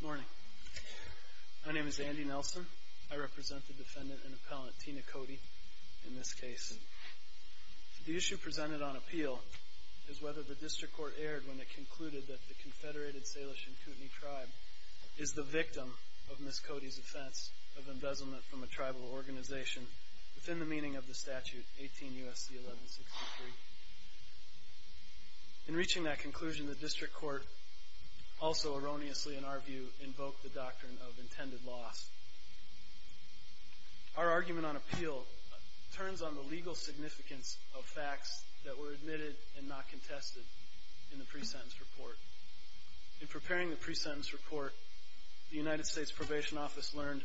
Good morning. My name is Andy Nelson. I represent the defendant and appellant Tina Cote in this case. The issue presented on appeal is whether the District Court erred when it concluded that the Confederated Salish and Kootenai Tribe is the victim of Ms. Cote's offense of embezzlement from a tribal organization within the meaning of the statute 18 U.S.C. 1163. In reaching that conclusion, the District Court also erroneously, in our view, invoked the doctrine of intended loss. Our argument on appeal turns on the legal significance of facts that were admitted and not contested in the pre-sentence report. In preparing the pre-sentence report, the United States Probation Office learned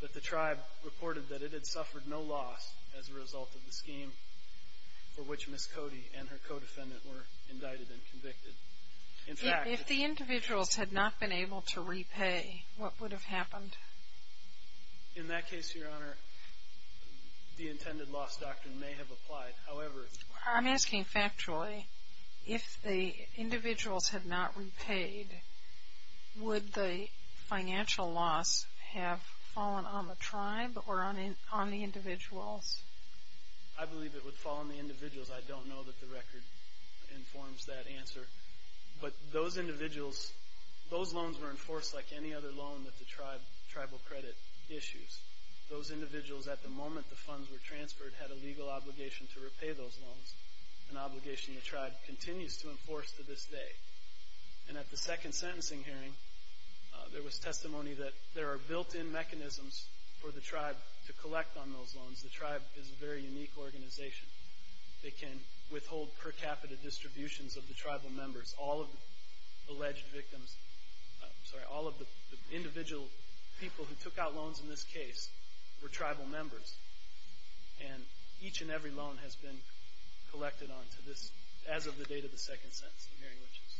that the tribe reported that it had suffered no loss as a result of the scheme for which Ms. Cote and her co-defendant were indicted and convicted. If the individuals had not been able to repay, what would have happened? In that case, Your Honor, the intended loss doctrine may have applied. I'm asking factually, if the individuals had not repaid, would the financial loss have fallen on the tribe or on the individuals? I believe it would fall on the individuals. I don't know that the record informs that answer. But those individuals, those loans were enforced like any other loan that the tribe tribal credit issues. Those individuals, at the moment the funds were transferred, had a legal obligation to repay those loans, an obligation the tribe continues to enforce to this day. And at the second sentencing hearing, there was testimony that there are built-in mechanisms for the tribe to collect on those loans. The tribe is a very unique organization. They can withhold per capita distributions of the tribal members. All of the alleged victims, I'm sorry, all of the individual people who took out loans in this case were tribal members. And each and every loan has been collected on to this, as of the date of the second sentencing hearing, which is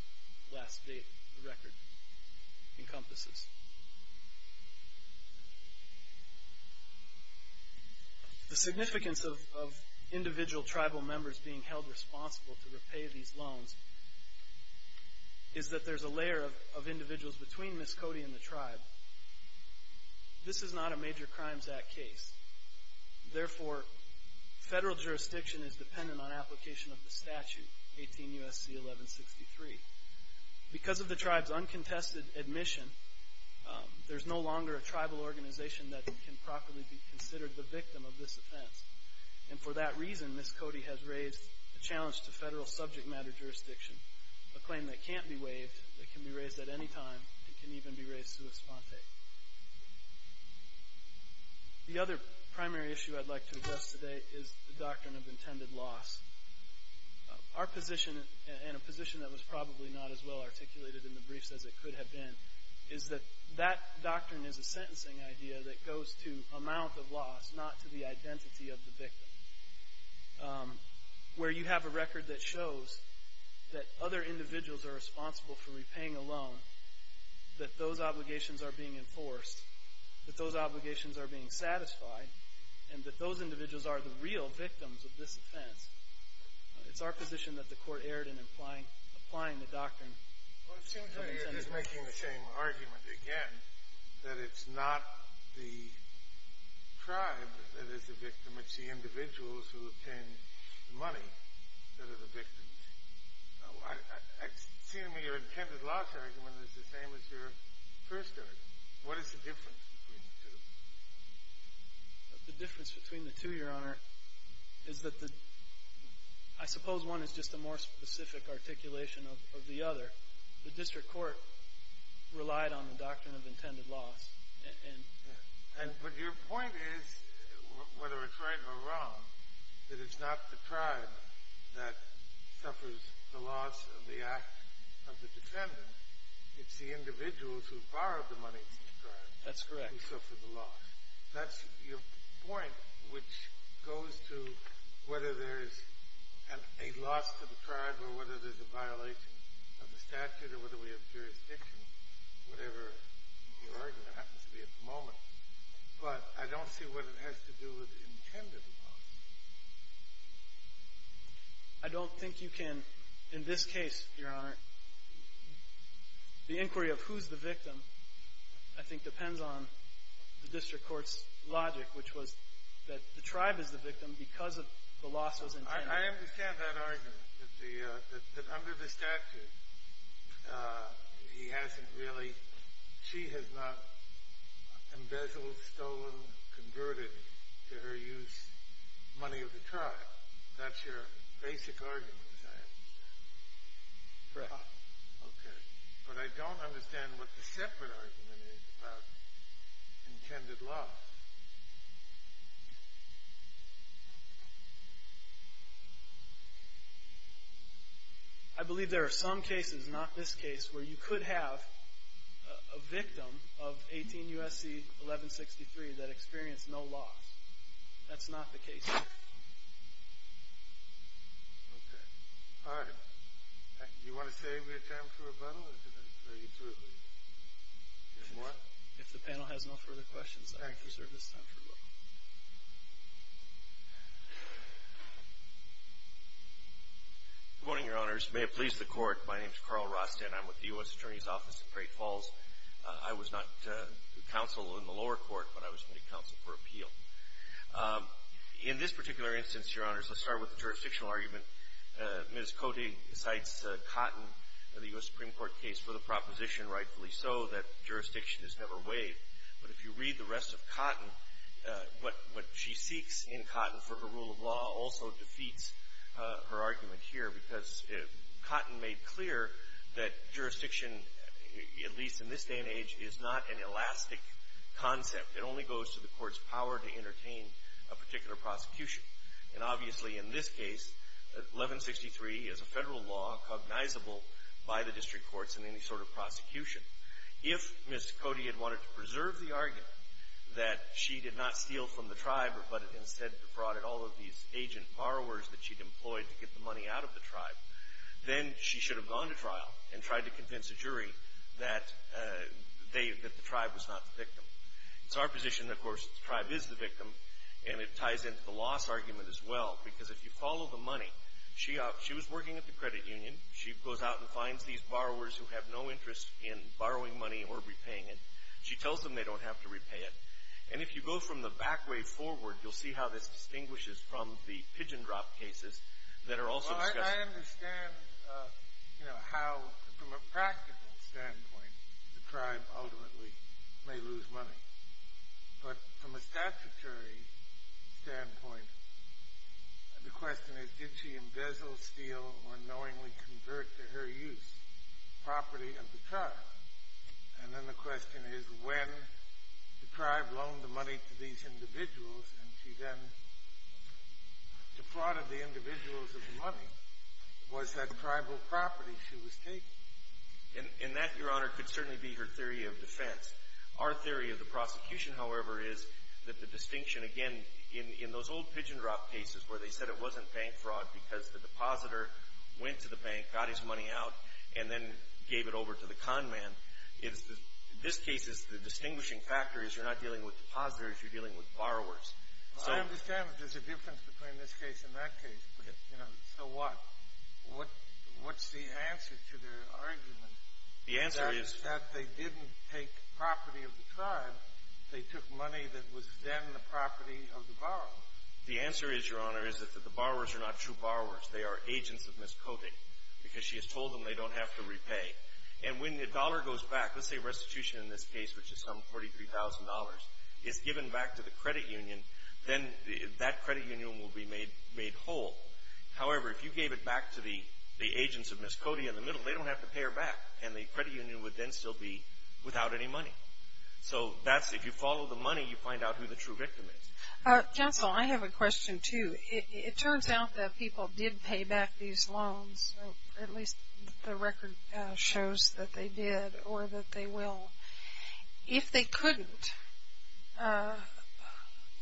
the last date the record encompasses. The significance of individual tribal members being held responsible to repay these loans is that there's a layer of individuals between Miss Cody and the tribe. This is not a major Crimes Act case. Therefore, federal jurisdiction is dependent on application of the statute, 18 U.S.C. 1163. Because of the tribe's uncontested admission, there's no longer a tribal organization that can properly be considered the victim of this offense. And for that reason, Miss Cody has raised a challenge to federal subject matter jurisdiction, a claim that can't be waived, that can be raised at any time, and can even be raised sui sponte. The other primary issue I'd like to address today is the doctrine of intended loss. Our position, and a position that was probably not as well articulated in the briefs as it could have been, is that that doctrine is a sentencing idea that goes to amount of loss, not to the identity of the victim. Where you have a record that shows that other individuals are responsible for repaying a loan, that those obligations are being enforced, that those obligations are being satisfied, and that those individuals are the real victims of this offense. It's our position that the court erred in applying the doctrine of intended loss. Well, it seems like you're just making the same argument again, that it's not the tribe that is the victim. It's the individuals who obtain the money that are the victims. It seems to me your intended loss argument is the same as your first argument. What is the difference between the two? The difference between the two, Your Honor, is that I suppose one is just a more specific articulation of the other. The district court relied on the doctrine of intended loss. But your point is, whether it's right or wrong, that it's not the tribe that suffers the loss of the act of the defendant. It's the individuals who borrowed the money from the tribe. That's correct. Who suffer the loss. That's your point, which goes to whether there's a loss to the tribe or whether there's a violation of the statute or whether we have jurisdiction, whatever your argument happens to be at the moment. But I don't see what it has to do with intended loss. I don't think you can, in this case, Your Honor, the inquiry of who's the victim I think depends on the district court's logic, which was that the tribe is the victim because the loss was intended. I understand that argument, that under the statute, she has not embezzled, stolen, converted to her use money of the tribe. That's your basic argument, I understand. Correct. Okay. But I don't understand what the separate argument is about intended loss. I believe there are some cases, not this case, where you could have a victim of 18 U.S.C. 1163 that experienced no loss. That's not the case here. Okay. All right. Do you want to save your time for rebuttal or do you want to bring it to a close? If the panel has no further questions, I will preserve this time for rebuttal. Good morning, Your Honors. May it please the Court, my name is Carl Rostand. I'm with the U.S. Attorney's Office in Great Falls. I was not counsel in the lower court, but I was committee counsel for appeal. In this particular instance, Your Honors, let's start with the jurisdictional argument. Ms. Cody cites Cotton in the U.S. Supreme Court case for the proposition, rightfully so, that jurisdiction is never waived. But if you read the rest of Cotton, what she seeks in Cotton for her rule of law also defeats her argument here because Cotton made clear that jurisdiction, at least in this day and age, is not an elastic concept. It only goes to the court's power to entertain a particular prosecution. And obviously, in this case, 1163 is a federal law cognizable by the district courts in any sort of prosecution. If Ms. Cody had wanted to preserve the argument that she did not steal from the tribe, but instead defrauded all of these agent borrowers that she'd employed to get the money out of the tribe, then she should have gone to trial and tried to convince a jury that the tribe was not the victim. It's our position, of course, the tribe is the victim, and it ties into the loss argument as well because if you follow the money, she was working at the credit union. She goes out and finds these borrowers who have no interest in borrowing money or repaying it. She tells them they don't have to repay it. And if you go from the back way forward, you'll see how this distinguishes from the pigeon drop cases that are also discussed. Well, I understand how, from a practical standpoint, the tribe ultimately may lose money. But from a statutory standpoint, the question is, did she embezzle, steal, or knowingly convert to her use property of the tribe? And then the question is, when the tribe loaned the money to these individuals and she then defrauded the individuals of the money, was that tribal property she was taking? And that, Your Honor, could certainly be her theory of defense. Our theory of the prosecution, however, is that the distinction, again, in those old pigeon drop cases where they said it wasn't bank fraud because the depositor went to the bank, got his money out, and then gave it over to the con man, in this case, the distinguishing factor is you're not dealing with depositors. You're dealing with borrowers. Well, I understand that there's a difference between this case and that case, but, you know, so what? What's the answer to their argument? The answer is that they didn't take property of the tribe. They took money that was then the property of the borrowers. The answer is, Your Honor, is that the borrowers are not true borrowers. They are agents of Miss Cody because she has told them they don't have to repay. And when the dollar goes back, let's say restitution in this case, which is some $43,000, is given back to the credit union, then that credit union will be made whole. However, if you gave it back to the agents of Miss Cody in the middle, they don't have to pay her back, and the credit union would then still be without any money. So that's if you follow the money, you find out who the true victim is. Counsel, I have a question, too. It turns out that people did pay back these loans, or at least the record shows that they did or that they will. If they couldn't,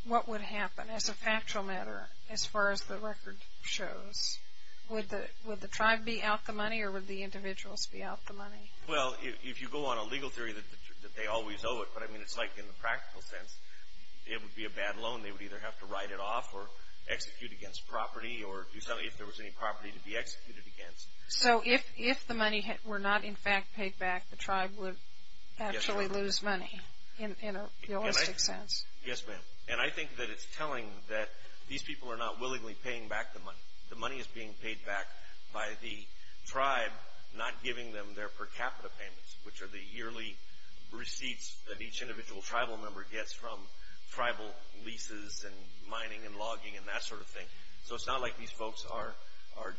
what would happen as a factual matter as far as the record shows? Would the tribe be out the money, or would the individuals be out the money? Well, if you go on a legal theory that they always owe it, but I mean it's like in the practical sense, it would be a bad loan. They would either have to write it off or execute against property, or if there was any property to be executed against. So if the money were not in fact paid back, the tribe would actually lose money in a realistic sense. Yes, ma'am. And I think that it's telling that these people are not willingly paying back the money. The money is being paid back by the tribe not giving them their per capita payments, which are the yearly receipts that each individual tribal member gets from tribal leases and mining and logging and that sort of thing. So it's not like these folks are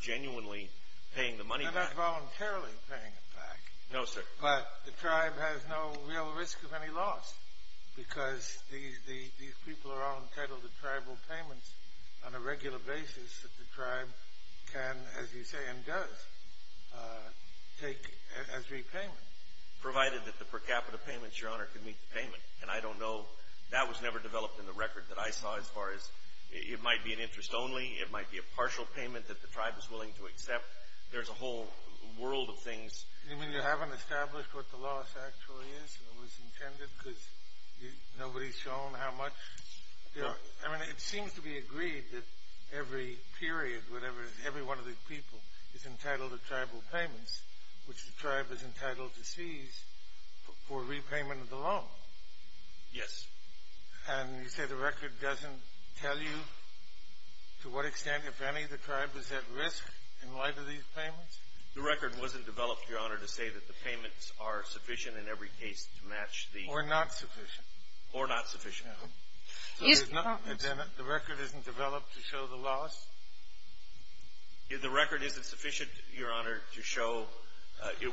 genuinely paying the money back. They're not voluntarily paying it back. No, sir. But the tribe has no real risk of any loss because these people are all entitled to tribal payments on a regular basis that the tribe can, as you say, and does, take as repayment. Provided that the per capita payments, Your Honor, can meet the payment. And I don't know. That was never developed in the record that I saw as far as it might be an interest only, it might be a partial payment that the tribe is willing to accept. There's a whole world of things. You mean you haven't established what the loss actually is or was intended because nobody's shown how much? No. I mean it seems to be agreed that every period, whatever, every one of these people is entitled to tribal payments, which the tribe is entitled to seize for repayment of the loan. Yes. And you say the record doesn't tell you to what extent, if any, the tribe is at risk in light of these payments? The record wasn't developed, Your Honor, to say that the payments are sufficient in every case to match the... Or not sufficient. Or not sufficient. Yes, Your Honor. And then the record isn't developed to show the loss? The record isn't sufficient, Your Honor, to show...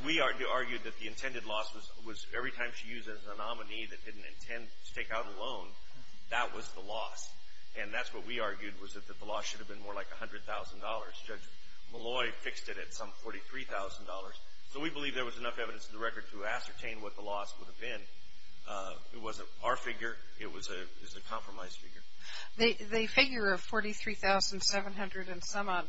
We argued that the intended loss was every time she used it as a nominee that didn't intend to take out a loan, that was the loss. And that's what we argued was that the loss should have been more like $100,000. Judge Malloy fixed it at some $43,000. So we believe there was enough evidence in the record to ascertain what the loss would have been. It wasn't our figure. It was a compromise figure. The figure of $43,700-and-some-odd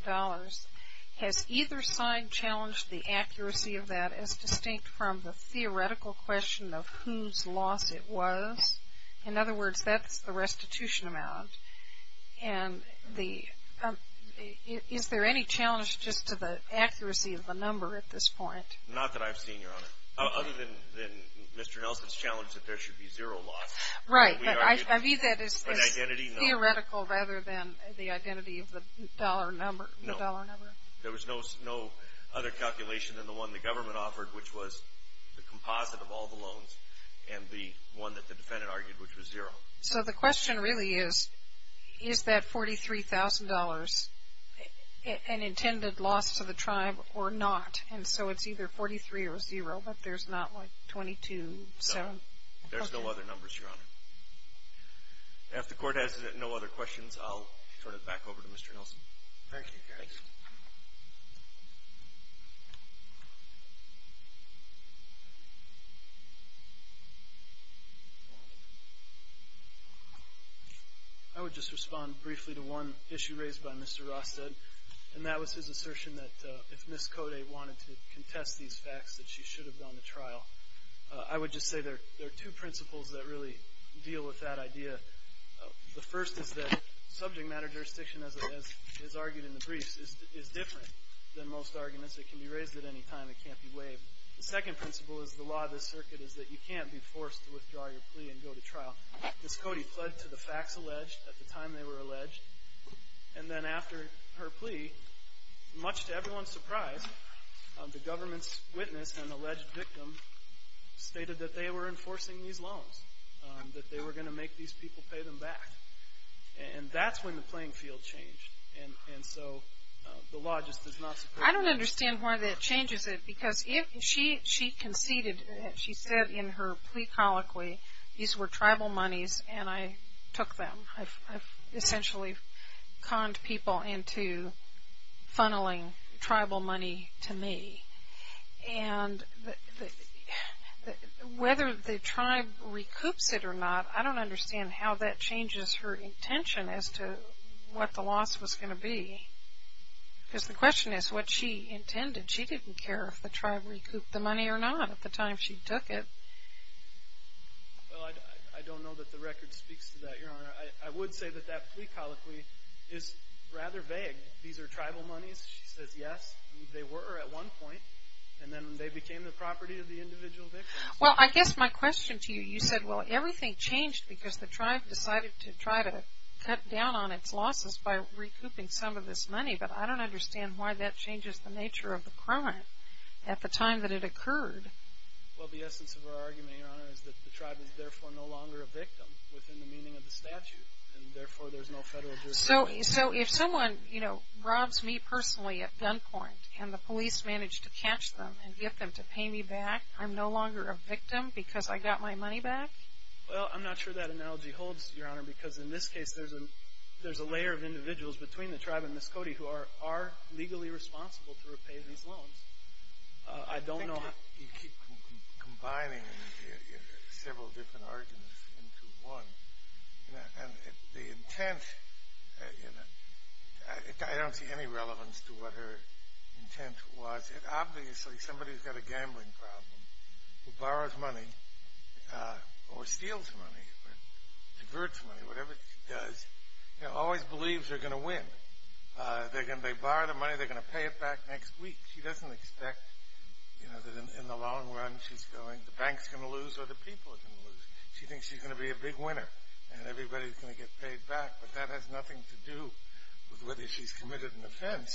has either side challenged the accuracy of that as distinct from the theoretical question of whose loss it was. In other words, that's the restitution amount. And is there any challenge just to the accuracy of the number at this point? Not that I've seen, Your Honor, other than Mr. Nelson's challenge that there should be zero loss. Right. But I read that as theoretical rather than the identity of the dollar number. No. There was no other calculation than the one the government offered, which was the composite of all the loans and the one that the defendant argued, which was zero. So the question really is, is that $43,000 an intended loss to the tribe or not? And so it's either 43 or zero, but there's not like 22. There's no other numbers, Your Honor. If the Court has no other questions, I'll turn it back over to Mr. Nelson. Thank you, Gary. Thank you. I would just respond briefly to one issue raised by Mr. Rosted, and that was his assertion that if Ms. Cote wanted to contest these facts that she should have gone to trial. I would just say there are two principles that really deal with that idea. The first is that subject matter jurisdiction, as argued in the briefs, is different than most arguments. It can be raised at any time. It can't be waived. The second principle is the law of the circuit is that you can't be forced to withdraw your plea and go to trial. Ms. Cote fled to the facts alleged at the time they were alleged, and then after her plea, much to everyone's surprise, the government's witness, an alleged victim, stated that they were enforcing these loans, that they were going to make these people pay them back. And that's when the playing field changed, and so the law just does not support that. I don't understand why that changes it, because if she conceded, she said in her plea colloquy these were tribal monies and I took them. I've essentially conned people into funneling tribal money to me. And whether the tribe recoups it or not, I don't understand how that changes her intention as to what the loss was going to be. Because the question is what she intended. She didn't care if the tribe recouped the money or not at the time she took it. Well, I don't know that the record speaks to that, Your Honor. I would say that that plea colloquy is rather vague. These are tribal monies, she says, yes, they were at one point, and then they became the property of the individual victim. Well, I guess my question to you, you said, well, everything changed because the tribe decided to try to cut down on its losses by recouping some of this money, but I don't understand why that changes the nature of the crime at the time that it occurred. Well, the essence of her argument, Your Honor, is that the tribe is therefore no longer a victim within the meaning of the statute, and therefore there's no federal jurisdiction. So if someone robs me personally at gunpoint and the police manage to catch them and get them to pay me back, I'm no longer a victim because I got my money back? Well, I'm not sure that analogy holds, Your Honor, because in this case there's a layer of individuals between the tribe and Miss Cody who are legally responsible to repay these loans. I think you keep combining several different arguments into one, and the intent, I don't see any relevance to what her intent was. Obviously, somebody who's got a gambling problem, who borrows money, or steals money, diverts money, whatever she does, always believes they're going to win. They borrow the money, they're going to pay it back next week. She doesn't expect that in the long run the bank's going to lose or the people are going to lose. She thinks she's going to be a big winner and everybody's going to get paid back, but that has nothing to do with whether she's committed an offense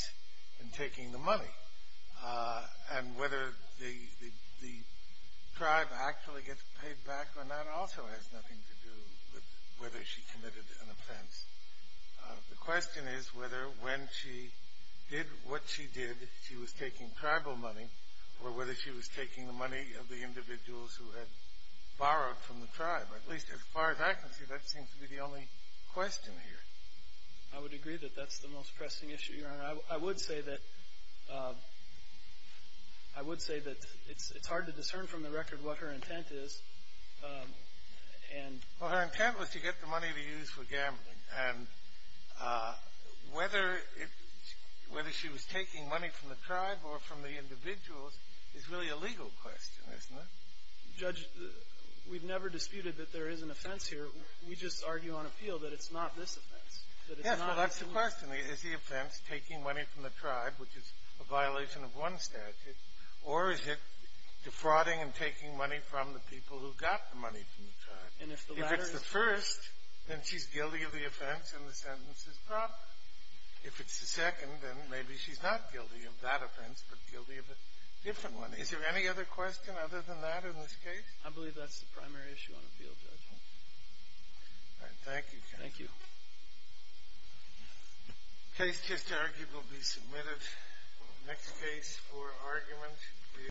in taking the money and whether the tribe actually gets paid back, and that also has nothing to do with whether she committed an offense. The question is whether when she did what she did she was taking tribal money or whether she was taking the money of the individuals who had borrowed from the tribe. At least as far as I can see, that seems to be the only question here. I would agree that that's the most pressing issue, Your Honor. I would say that it's hard to discern from the record what her intent is. Well, her intent was to get the money to use for gambling, and whether she was taking money from the tribe or from the individuals is really a legal question, isn't it? Judge, we've never disputed that there is an offense here. We just argue on appeal that it's not this offense. Yes, well, that's the question. Is the offense taking money from the tribe, which is a violation of one statute, or is it defrauding and taking money from the people who got the money from the tribe? If it's the first, then she's guilty of the offense and the sentence is proper. If it's the second, then maybe she's not guilty of that offense but guilty of a different one. Is there any other question other than that in this case? I believe that's the primary issue on appeal, Judge. All right. Thank you, counsel. Thank you. Case just argued will be submitted. Next case for argument is